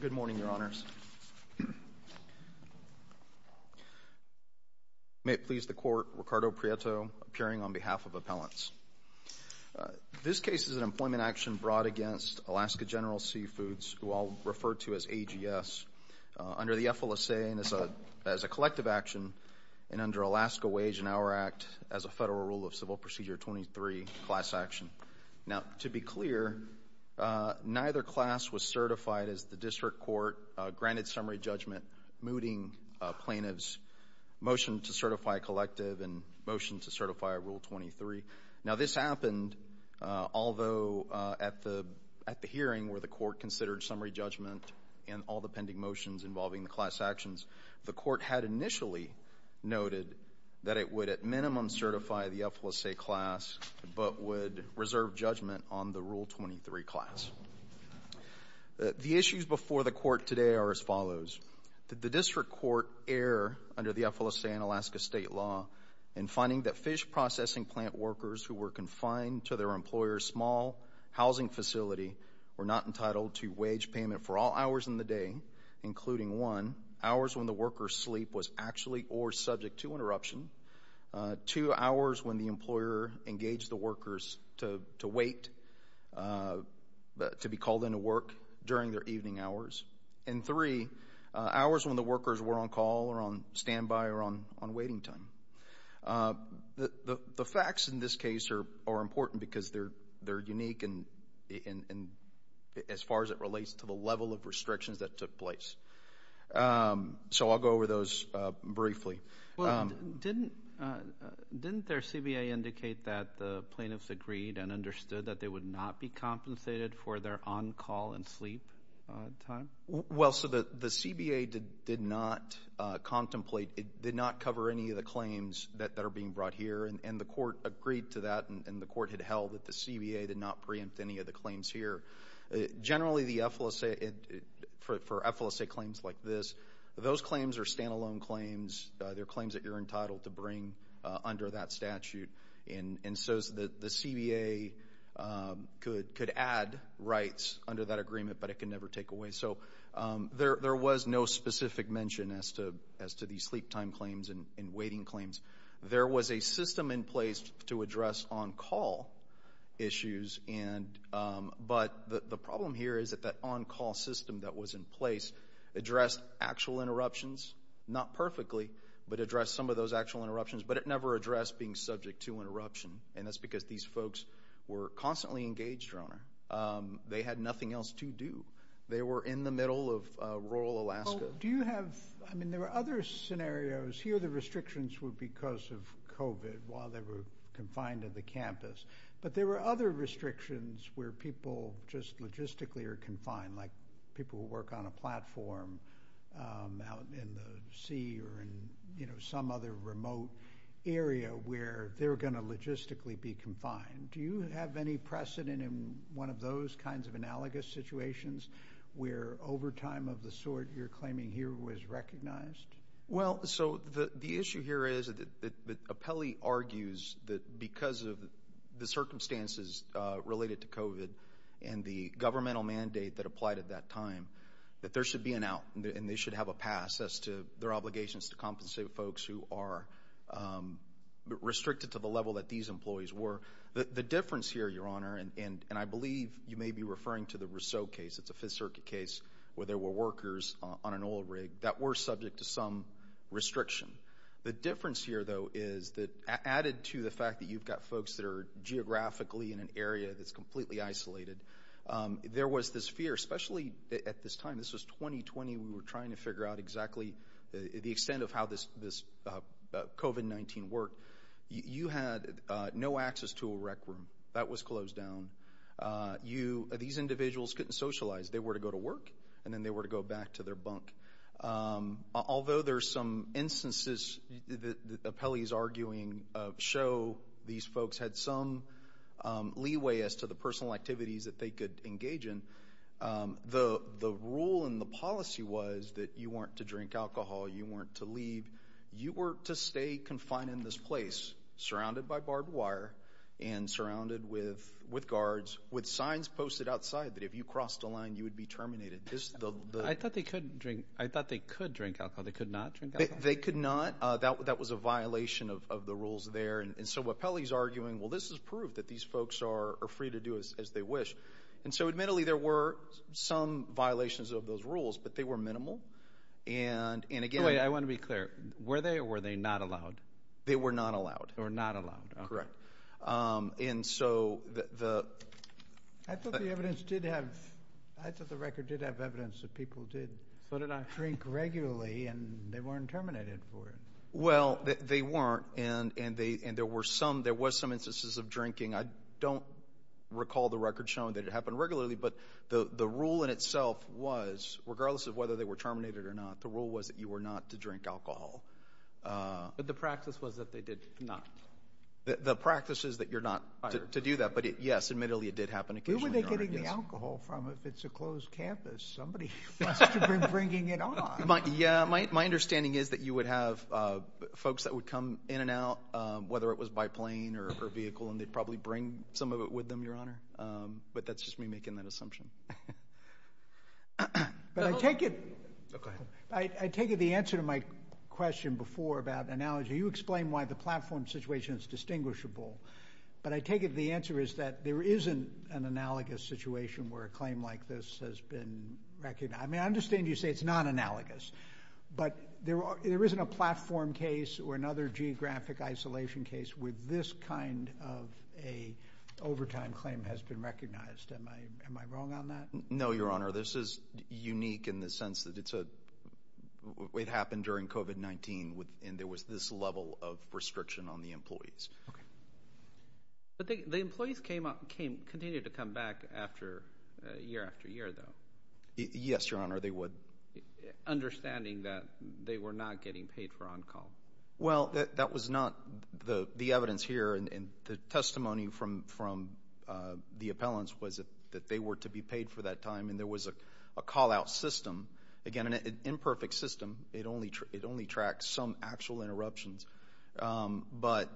Good morning, Your Honors. May it please the Court, Ricardo Prieto, appearing on behalf of Appellants. This case is an employment action brought against Alaska General Seafoods, who I'll refer to as AGS, under the FLSA as a collective action and under Alaska Wage and Hour Act as a Federal Rule of Civil Procedure 23 class action. Now, to be clear, neither class was certified as the district court, granted summary judgment, mooting plaintiffs, motion to certify a collective, and motion to certify a Rule 23. Now, this happened, although at the hearing where the Court considered summary judgment and all the pending motions involving the class actions, the Court had initially noted that it would at minimum certify the FLSA class but would reserve judgment on the Rule 23 class. The issues before the Court today are as follows. Did the district court err under the FLSA and Alaska state law in finding that fish processing plant workers who were confined to their employer's small housing facility were not entitled to wage payment for all hours in the day, including one, hours when the worker's sleep was actually or subject to interruption, two, hours when the employer engaged the workers to wait to be called into work during their evening hours, and three, hours when the workers were on call or on standby or on waiting time. The facts in this case are important because they're unique as far as it relates to the level of restrictions that took place. So I'll go over those briefly. Well, didn't their CBA indicate that the plaintiffs agreed and understood that they would not be compensated for their on-call and sleep time? Well, so the CBA did not contemplate, did not cover any of the claims that are being brought here, and the Court agreed to that, and the Court had held that the CBA did not contemplate any of the claims here. Generally, for FLSA claims like this, those claims are standalone claims. They're claims that you're entitled to bring under that statute, and so the CBA could add rights under that agreement, but it could never take away. So there was no specific mention as to these sleep time claims and waiting claims. There was a system in place to address on-call issues, but the problem here is that that on-call system that was in place addressed actual interruptions, not perfectly, but addressed some of those actual interruptions, but it never addressed being subject to interruption, and that's because these folks were constantly engaged, Your Honor. They had nothing else to do. They were in the middle of rural Alaska. Do you have, I mean, there were other scenarios. Here, the restrictions were because of COVID while they were confined to the campus, but there were other restrictions where people just logistically are confined, like people who work on a platform out in the sea or in, you know, some other remote area where they're going to logistically be confined. Do you have any precedent in one of those kinds of analogous situations where overtime of the sort you're claiming here was recognized? Well, so the issue here is that Apelli argues that because of the circumstances related to COVID and the governmental mandate that applied at that time, that there should be an out and they should have a pass as to their obligations to compensate folks who are restricted to the level that these employees were. The difference here, Your Honor, and I believe you may be referring to the Rousseau case. It's a Fifth Circuit case where there were workers on an oil rig that were subject to some restriction. The difference here, though, is that added to the fact that you've got folks that are geographically in an area that's completely isolated, there was this fear, especially at this time. This was 2020. We were trying to figure out exactly the extent of how this COVID-19 worked. You had no access to a rec room that was closed down. You, these individuals couldn't socialize. They were to go to work, and then they were to go back to their bunk. Although there's some instances that Apelli's arguing show these folks had some leeway as to the personal activities that they could engage in, the rule and the policy was that you weren't to drink alcohol, you weren't to leave. You were to stay confined in this place, surrounded by barbed wire and surrounded with guards with signs posted outside that if you crossed the line, you would be terminated. I thought they could drink alcohol. They could not drink alcohol? They could not. That was a violation of the rules there. And so Apelli's arguing, well, this is proof that these folks are free to do as they wish. And so, admittedly, there were some violations of those rules, but they were minimal. And, again- Wait, I want to be clear. Were they or were they not allowed? They were not allowed. They were not allowed. Correct. And so the- I thought the evidence did have, I thought the record did have evidence that people did sort of drink regularly, and they weren't terminated for it. Well, they weren't, and there were some, there was some instances of drinking. I don't recall the record showing that it happened regularly, but the rule in itself was, regardless of whether they were terminated or not, the rule was that you were not to drink alcohol. But the practice was that they did not? The practice is that you're not to do that. But, yes, admittedly, it did happen occasionally. Where were they getting the alcohol from? If it's a closed campus, somebody must have been bringing it on. Yeah, my understanding is that you would have folks that would come in and out, whether it was by plane or vehicle, and they'd probably bring some of it with them, Your Honor. But that's just me making that assumption. But I take it- Go ahead. I take it the answer to my question before about analogy, you explain why the platform situation is distinguishable, but I take it the answer is that there isn't an analogous situation where a claim like this has been recognized. I mean, I understand you say it's not analogous, but there isn't a platform case or another geographic isolation case where this kind of an overtime claim has been recognized. Am I wrong on that? No, Your Honor. This is unique in the sense that it happened during COVID-19, and there was this level of restriction on the employees. Okay. But the employees continued to come back year after year, though. Yes, Your Honor, they would. Understanding that they were not getting paid for on-call. Well, that was not the evidence here, and the testimony from the appellants was that they were to be paid for that time, and there was a call-out system. Again, an imperfect system. It only tracks some actual interruptions. But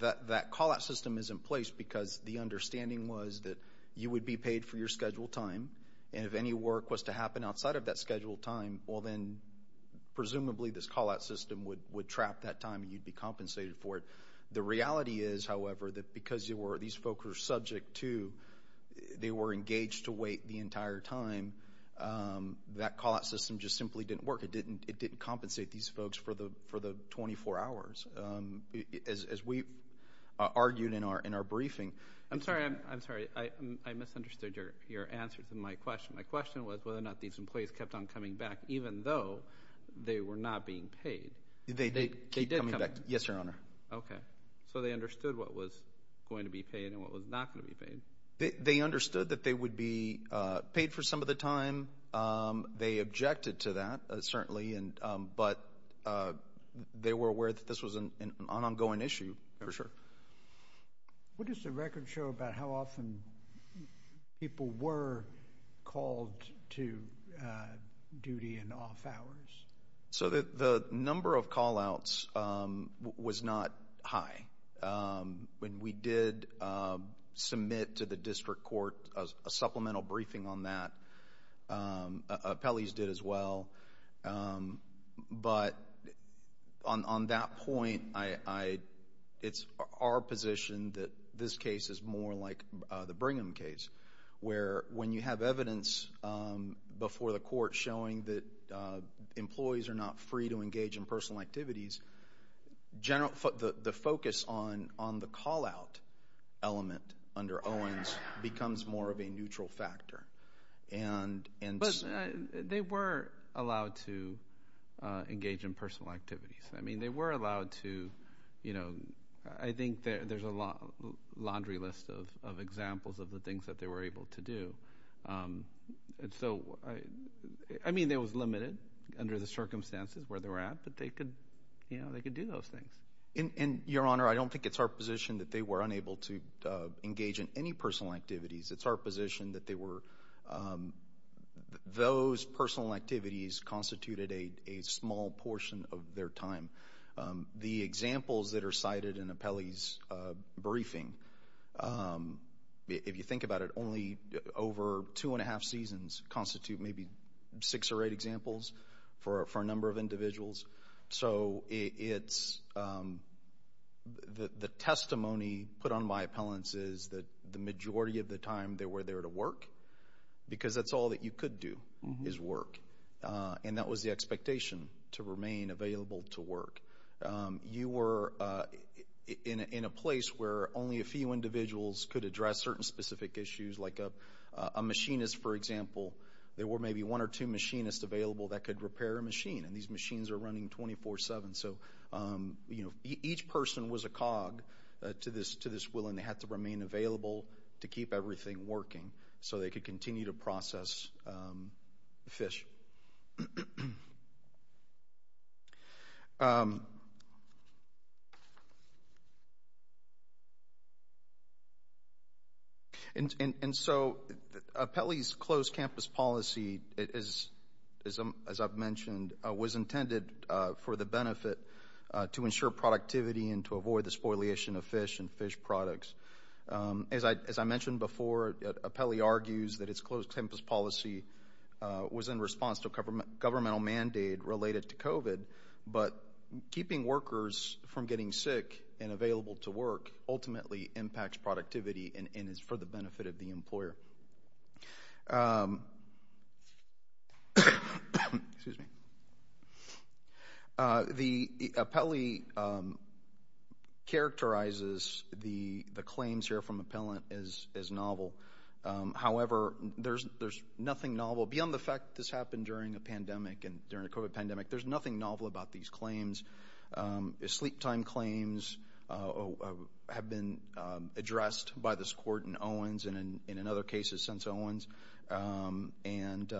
that call-out system is in place because the understanding was that you would be paid for your scheduled time, and if any work was to happen outside of that scheduled time, well, then presumably this call-out system would trap that time, and you'd be compensated for it. The reality is, however, that because these folks were subject to, they were engaged to wait the entire time, that call-out system just simply didn't work. It didn't compensate these folks for the 24 hours, as we argued in our briefing. I'm sorry. I misunderstood your answer to my question. My question was whether or not these employees kept on coming back even though they were not being paid. They did keep coming back. Yes, Your Honor. Okay. So they understood what was going to be paid and what was not going to be paid. They understood that they would be paid for some of the time. They objected to that, certainly, but they were aware that this was an ongoing issue, for sure. What does the record show about how often people were called to duty and off hours? So the number of call-outs was not high. We did submit to the District Court a supplemental that this case is more like the Brigham case, where when you have evidence before the court showing that employees are not free to engage in personal activities, the focus on the call-out element under Owens becomes more of a neutral factor. But they were allowed to engage in personal activities. I think there's a laundry list of examples of the things that they were able to do. I mean, it was limited under the circumstances where they were at, but they could do those things. Your Honor, I don't think it's our position that they were unable to engage in any personal activities. It's our position that those personal activities constituted a small portion of their time. The examples that are cited in Appellee's briefing, if you think about it, only over two and a half seasons constitute maybe six or eight examples for a number of individuals. So the testimony put on my appellants is that the majority of the time they were there to work, because that's all that you could do, is work. And that was the expectation, to remain available to work. You were in a place where only a few individuals could address certain specific issues, like a machinist, for example. There were maybe one or two machinists available that could repair a machine, and these machines are running 24-7. So each person was a cog to this will, and they had to remain available to keep everything working so they could continue to process fish. And so Appellee's closed campus policy, as I've mentioned, was intended for the benefit to ensure productivity and to avoid the spoliation of fish and fish products. As I mentioned before, Appellee argues that its closed campus policy was in response to a governmental mandate related to COVID, but keeping workers from getting sick and available to work ultimately impacts productivity and is for the benefit of the employer. The Appellee characterizes the claims here from Appellant as novel. However, there's nothing novel, beyond the fact that this happened during a pandemic, during a COVID pandemic, there's nothing novel about these claims. Sleep time claims have been addressed by this court in Owens and in other cases since Owens, and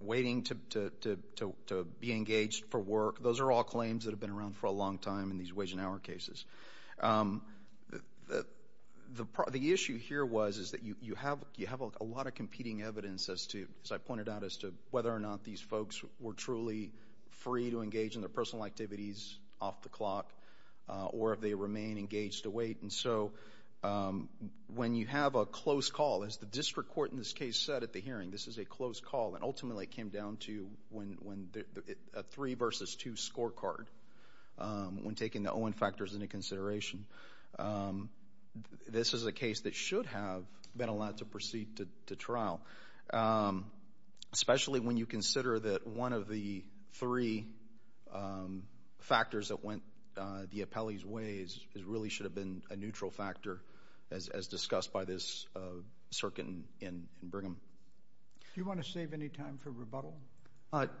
waiting to be engaged for work, those are all claims that have been around for a long time in these wage and hour cases. The issue here was is that you have a lot of competing evidence, as I pointed out, as to whether or not these folks were truly free to engage in their personal activities off the clock or if they remain engaged to wait. And so when you have a close call, as the district court in this case said at the hearing, this is a close call, and ultimately it came down to a three versus two scorecard when taking the Owen factors into consideration. This is a case that should have been allowed to proceed to trial, especially when you consider that one of the three factors that went the Appellee's way really should have been a neutral factor as discussed by this circuit in Brigham. Do you want to save any time for rebuttal?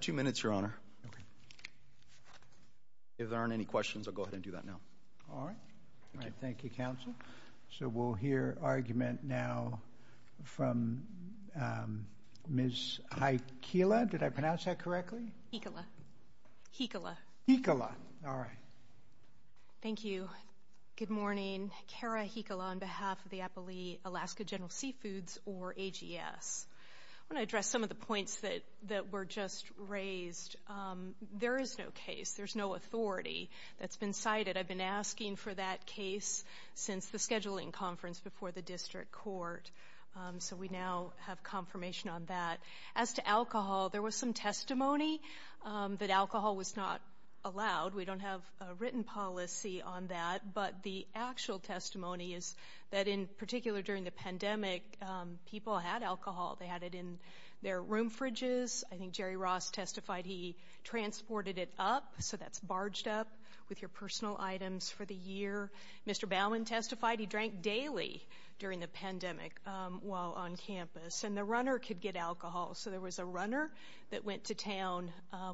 Two minutes, Your Honor. If there aren't any questions, I'll go ahead and do that now. All right. Thank you, Counsel. So we'll hear argument now from Ms. Heikkila. Did I pronounce that correctly? Heikkila. Heikkila. All right. Thank you. Good morning. Cara Heikkila on behalf of the Appellee Alaska General Seafoods, or AGS. I want to address some of the points that were just raised. There is no case, there's no authority that's been cited. I've been asking for that case since the scheduling conference before the district court. So we now have confirmation on that. As to alcohol, there was some testimony that alcohol was not allowed. We don't have a written policy on that. But the actual testimony is that in particular during the pandemic, people had alcohol. They had it in their room fridges. I think Jerry Ross testified he transported it up. So that's barged up with your personal items for the year. Mr. Bowman testified he drank daily during the pandemic while on campus. And the runner could get alcohol. So there was a runner that went to town,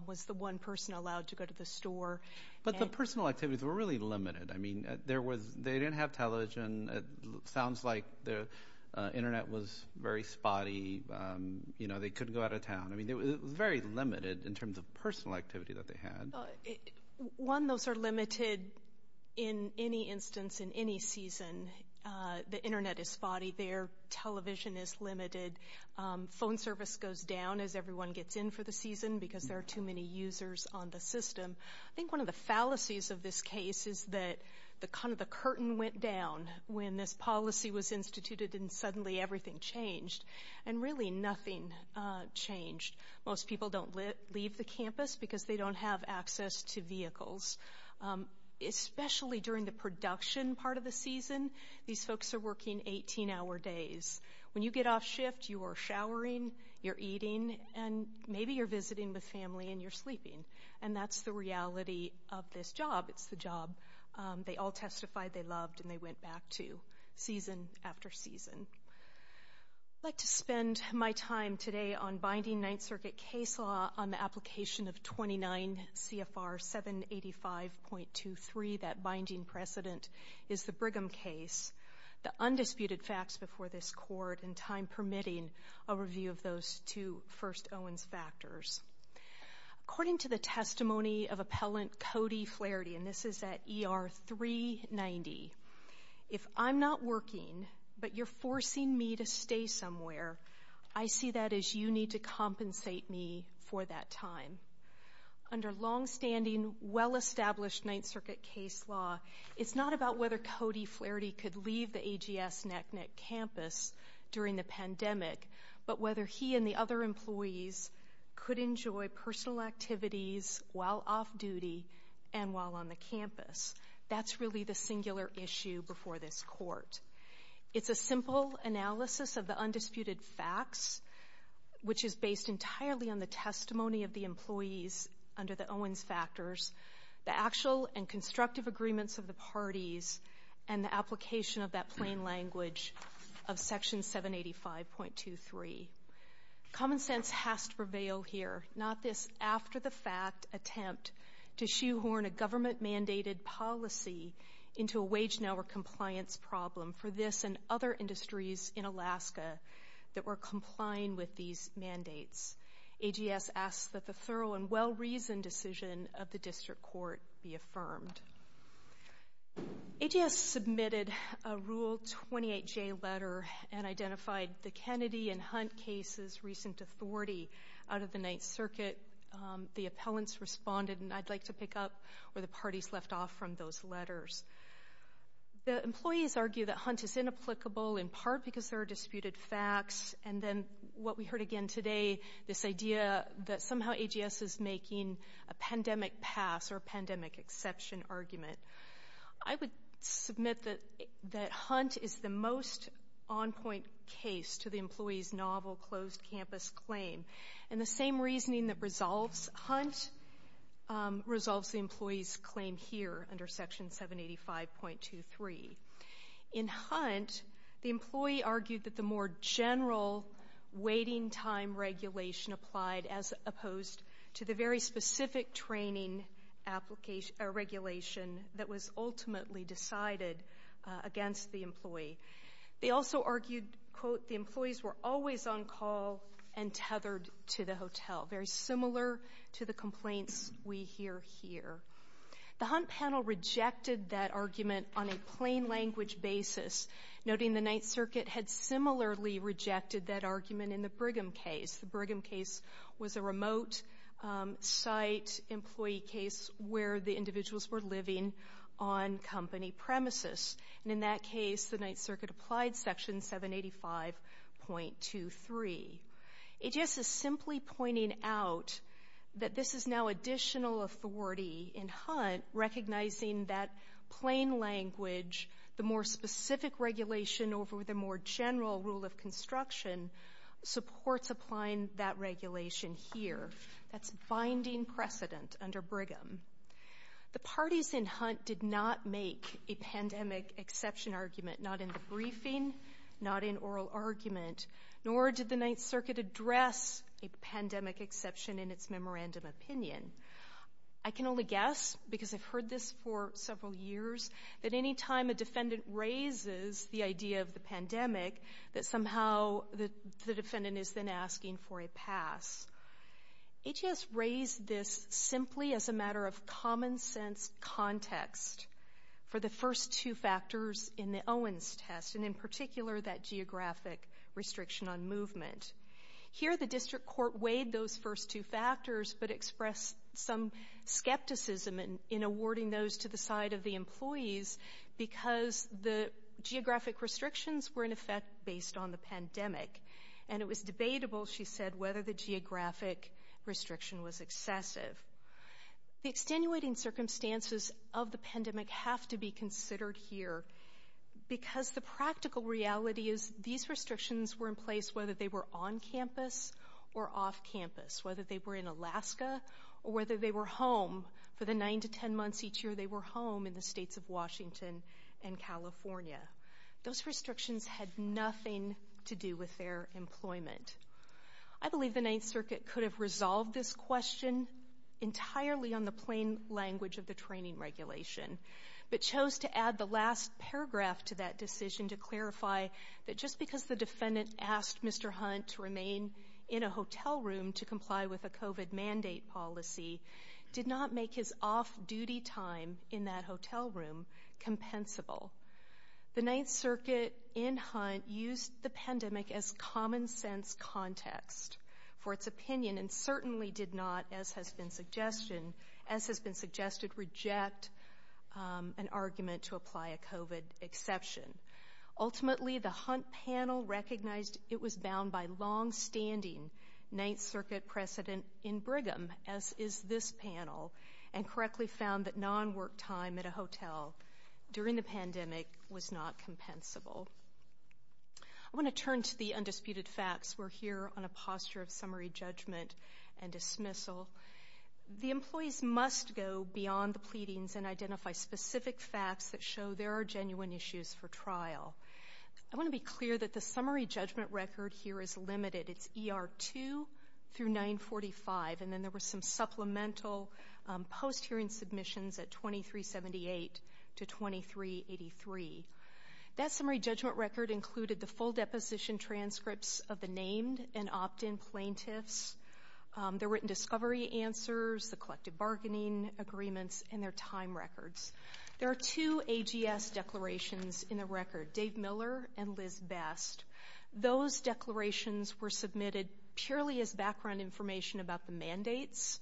was the one person allowed to go to the store. But the personal activities were really limited. I mean, there was they didn't have television. Sounds like the Internet was very spotty. They couldn't go out of town. It was very limited in terms of personal activity that they had. One, those are limited in any instance in any season. The Internet is spotty there. Television is limited. Phone service goes down as everyone gets in for the season because there are too many users on the system. I think one of the fallacies of this case is that kind of the curtain went down when this policy was instituted and suddenly everything changed and really nothing changed. Most people don't leave the campus because they don't have access to vehicles, especially during the production part of the season. These folks are working 18-hour days. When you get off shift, you are showering, you're eating, and maybe you're visiting with family and you're sleeping. And that's the reality of this job. It's the job. They all testified, they loved, and they went back to season after season. I'd like to spend my time today on binding Ninth Circuit case law on the application of 29 CFR 785.23. That binding precedent is the Brigham case. The undisputed facts before this court and time permitting a review of those two first Owens factors. According to the testimony of appellant Cody Flaherty, and this is at ER 390, if I'm not working but you're forcing me to stay somewhere, I see that as you need to compensate me for that time. Under longstanding, well-established Ninth Circuit case law, it's not about whether Cody Flaherty could leave the AGS NACNC campus during the pandemic, but whether he and the other employees could enjoy personal activities while off duty and while on the campus. That's really the singular issue before this court. It's a simple analysis of the undisputed facts, which is based entirely on the testimony of the employees under the Owens factors, the actual and constructive agreements of the parties, and the application of that plain language of section 785.23. Common sense has to prevail here, not this after-the-fact attempt to shoehorn a government-mandated policy into a wage-and-hour compliance problem for this and other industries in Alaska that were complying with these mandates. AGS asks that the thorough and well-reasoned decision of the district court be affirmed. AGS submitted a Rule 28J letter and identified the Kennedy and Hunt cases' recent authority out of the Ninth Circuit. The appellants responded, and I'd like to pick up where the parties left off from those letters. The employees argue that Hunt is inapplicable in part because there are disputed facts, and then what we heard again today, this idea that somehow AGS is making a pandemic pass or a pandemic exception argument. I would submit that Hunt is the most on-point case to the employees' novel closed-campus claim, and the same reasoning that resolves Hunt resolves the employees' claim here under section 785.23. In Hunt, the employee argued that the more general waiting time regulation applied as opposed to the very specific training regulation that was ultimately decided against the employee. They also argued, quote, the employees were always on call and tethered to the hotel, very similar to the complaints we hear here. The Hunt panel rejected that argument on a plain-language basis, noting the Ninth Circuit had similarly rejected that argument in the Brigham case. The Brigham case was a remote-site employee case where the individuals were living on company premises. And in that case, the Ninth Circuit applied section 785.23. AGS is simply pointing out that this is now additional authority in Hunt, recognizing that plain language, the more specific regulation over the more general rule of construction, supports applying that regulation here. That's binding precedent under Brigham. The parties in Hunt did not make a pandemic exception argument, not in the briefing, not in oral argument, nor did the Ninth Circuit address a pandemic exception in its memorandum opinion. I can only guess, because I've heard this for several years, that any time a defendant raises the idea of the pandemic, that somehow the defendant is then asking for a pass. AGS raised this simply as a matter of common-sense context for the first two factors in the Owens test, and in particular, that geographic restriction on movement. Here, the district court weighed those first two factors, but expressed some skepticism in awarding those to the side of the employees because the geographic restrictions were, in effect, based on the pandemic. And it was debatable, she said, whether the geographic restriction was excessive. The extenuating circumstances of the pandemic have to be considered here because the practical reality is these restrictions were in place whether they were on campus or off campus, whether they were in Alaska or whether they were home. For the 9 to 10 months each year, they were home in the states of Washington and California. Those restrictions had nothing to do with their employment. I believe the Ninth Circuit could have resolved this question entirely on the plain language of the training regulation, but chose to add the last paragraph to that decision to clarify that just because the defendant asked Mr. Hunt to remain in a hotel room to comply with a COVID mandate policy did not make his off-duty time in that hotel room compensable. The Ninth Circuit in Hunt used the pandemic as common-sense context for its opinion and certainly did not, as has been suggested, reject an argument to apply a COVID exception. Ultimately, the Hunt panel recognized it was bound by longstanding Ninth Circuit precedent in Brigham, as is this panel, and correctly found that non-work time at a hotel during the pandemic was not compensable. I want to turn to the undisputed facts. We're here on a posture of summary judgment and dismissal. The employees must go beyond the pleadings and identify specific facts that show there are genuine issues for trial. I want to be clear that the summary judgment record here is limited. It's ER 2 through 945, and then there were some supplemental post-hearing submissions at 2378 to 2383. That summary judgment record included the full deposition transcripts of the named and opt-in plaintiffs, their written discovery answers, the collective bargaining agreements, and their time records. There are two AGS declarations in the record, Dave Miller and Liz Best. Those declarations were submitted purely as background information about the mandates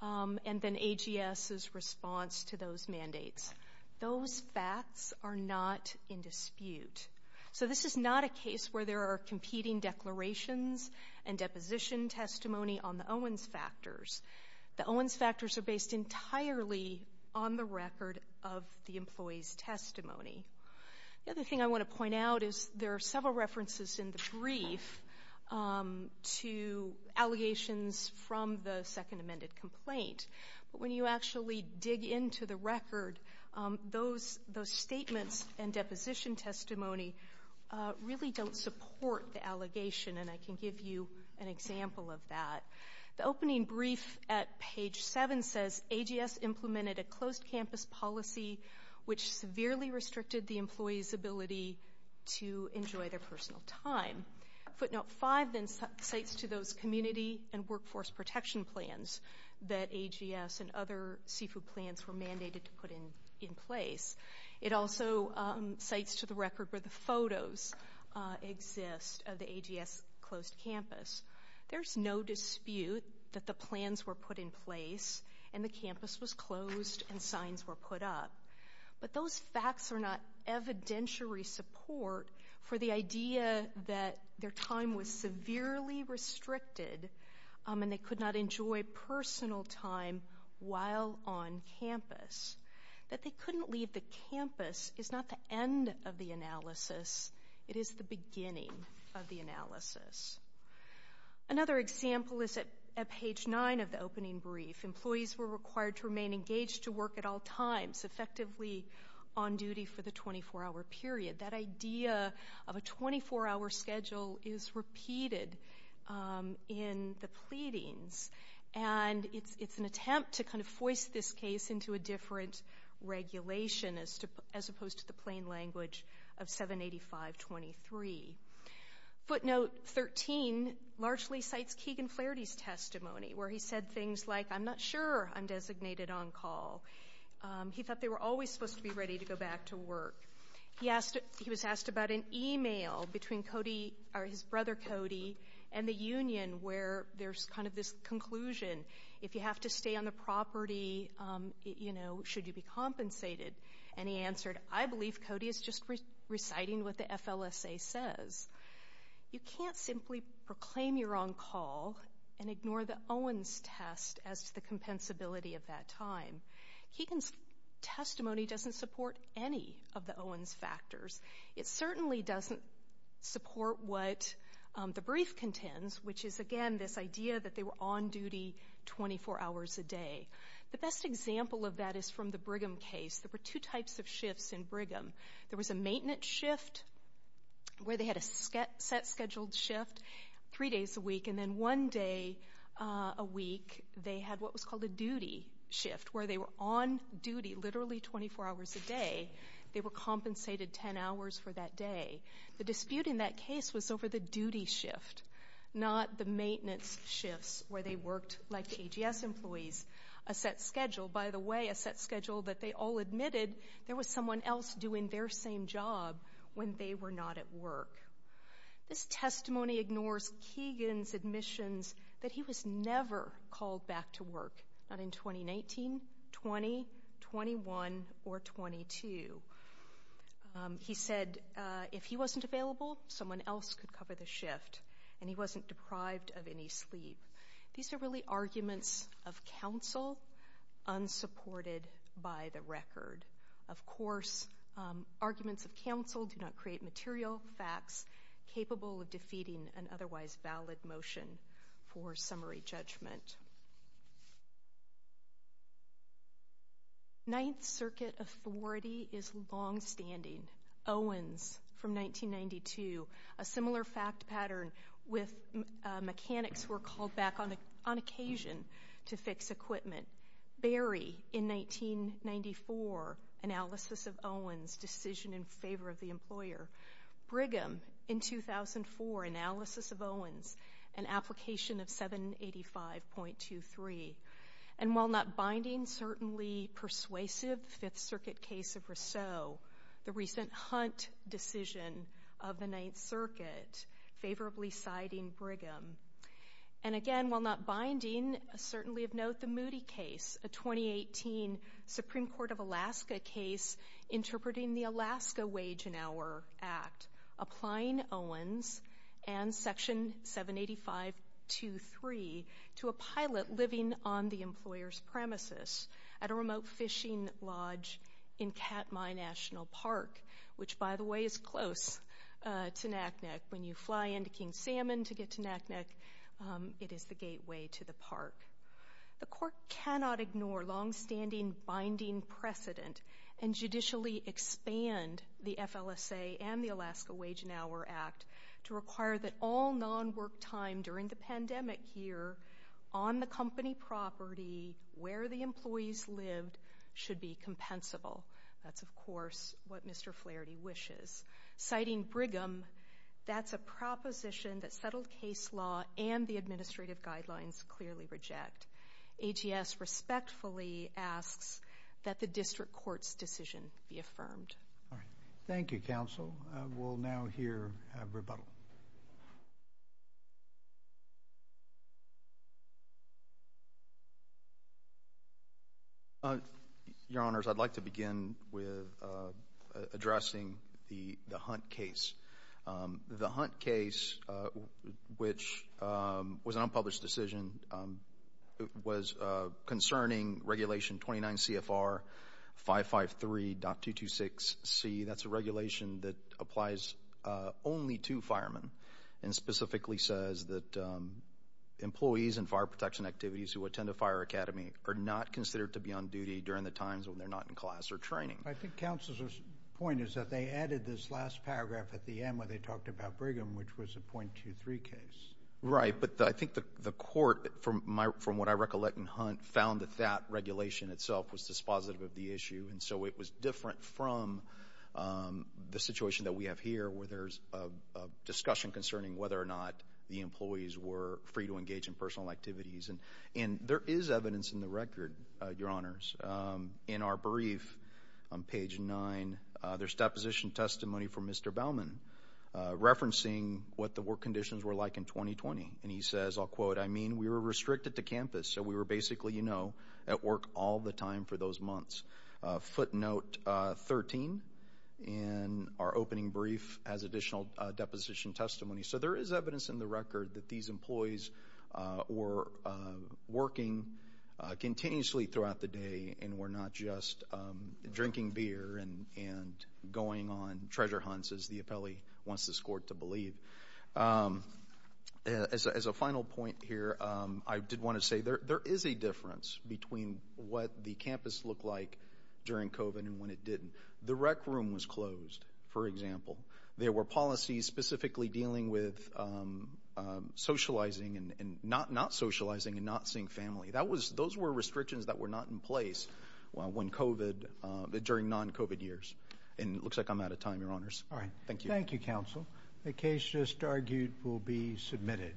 and then AGS's response to those mandates. Those facts are not in dispute. So this is not a case where there are competing declarations and deposition testimony on the Owens factors. The Owens factors are based entirely on the record of the employee's testimony. The other thing I want to point out is there are several references in the brief to allegations from the second amended complaint. But when you actually dig into the record, those statements and deposition testimony really don't support the allegation, and I can give you an example of that. The opening brief at page 7 says, AGS implemented a closed campus policy which severely restricted the employee's ability to enjoy their personal time. Footnote 5 then cites to those community and workforce protection plans that AGS and other seafood plans were mandated to put in place. It also cites to the record where the photos exist of the AGS closed campus. There's no dispute that the plans were put in place and the campus was closed and signs were put up. But those facts are not evidentiary support for the idea that their time was severely restricted and they could not enjoy personal time while on campus. That they couldn't leave the campus is not the end of the analysis. It is the beginning of the analysis. Another example is at page 9 of the opening brief. Employees were required to remain engaged to work at all times, effectively on duty for the 24-hour period. That idea of a 24-hour schedule is repeated in the pleadings, and it's an attempt to kind of voice this case into a different regulation as opposed to the plain language of 785.23. Footnote 13 largely cites Keegan Flaherty's testimony, where he said things like, I'm not sure I'm designated on call. He thought they were always supposed to be ready to go back to work. He was asked about an e-mail between his brother Cody and the union where there's kind of this conclusion. If you have to stay on the property, you know, should you be compensated? And he answered, I believe Cody is just reciting what the FLSA says. You can't simply proclaim you're on call and ignore the Owens test as to the compensability of that time. Keegan's testimony doesn't support any of the Owens factors. It certainly doesn't support what the brief contends, which is, again, this idea that they were on duty 24 hours a day. The best example of that is from the Brigham case. There were two types of shifts in Brigham. There was a maintenance shift where they had a set scheduled shift three days a week, and then one day a week they had what was called a duty shift where they were on duty literally 24 hours a day. They were compensated 10 hours for that day. The dispute in that case was over the duty shift, not the maintenance shifts where they worked like KGS employees. A set schedule, by the way, a set schedule that they all admitted there was someone else doing their same job when they were not at work. This testimony ignores Keegan's admissions that he was never called back to work, not in 2019, 20, 21, or 22. He said if he wasn't available, someone else could cover the shift, and he wasn't deprived of any sleep. These are really arguments of counsel unsupported by the record. Of course, arguments of counsel do not create material facts capable of defeating an otherwise valid motion for summary judgment. Ninth Circuit authority is longstanding. Owens from 1992, a similar fact pattern with mechanics who were called back on occasion to fix equipment. Berry in 1994, analysis of Owens, decision in favor of the employer. Brigham in 2004, analysis of Owens, an application of 785.23. And while not binding, certainly persuasive Fifth Circuit case of Rousseau, the recent Hunt decision of the Ninth Circuit favorably siding Brigham. And again, while not binding, certainly of note the Moody case, a 2018 Supreme Court of Alaska case interpreting the Alaska Wage and Hour Act, applying Owens and Section 785.23 to a pilot living on the employer's premises at a remote fishing lodge in Katmai National Park, which, by the way, is close to Naknek. When you fly into King Salmon to get to Naknek, it is the gateway to the park. The court cannot ignore longstanding binding precedent and judicially expand the FLSA and the Alaska Wage and Hour Act to require that all non-work time during the pandemic year on the company property where the employees lived should be compensable. That's, of course, what Mr. Flaherty wishes. Citing Brigham, that's a proposition that settled case law and the administrative guidelines clearly reject. ATS respectfully asks that the district court's decision be affirmed. All right. Thank you, counsel. We'll now hear rebuttal. Your Honors, I'd like to begin with addressing the Hunt case. The Hunt case, which was an unpublished decision, was concerning Regulation 29CFR 553.226C. That's a regulation that applies only to federal employees. And specifically says that employees in fire protection activities who attend a fire academy are not considered to be on duty during the times when they're not in class or training. I think counsel's point is that they added this last paragraph at the end where they talked about Brigham, which was a .23 case. Right. But I think the court, from what I recollect in Hunt, found that that regulation itself was dispositive of the issue. And so it was different from the situation that we have here where there's a discussion concerning whether or not the employees were free to engage in personal activities. And there is evidence in the record, Your Honors. In our brief on page 9, there's deposition testimony from Mr. Bauman referencing what the work conditions were like in 2020. And he says, I'll quote, I mean, we were restricted to campus. So we were basically, you know, at work all the time for those months. Footnote 13 in our opening brief has additional deposition testimony. So there is evidence in the record that these employees were working continuously throughout the day and were not just drinking beer and going on treasure hunts, as the appellee wants this court to believe. As a final point here, I did want to say there is a difference between what the campus looked like during COVID and when it didn't. The rec room was closed, for example. There were policies specifically dealing with socializing and not socializing and not seeing family. Those were restrictions that were not in place during non-COVID years. And it looks like I'm out of time, Your Honors. All right. Thank you. Thank you, counsel. The case just argued will be submitted.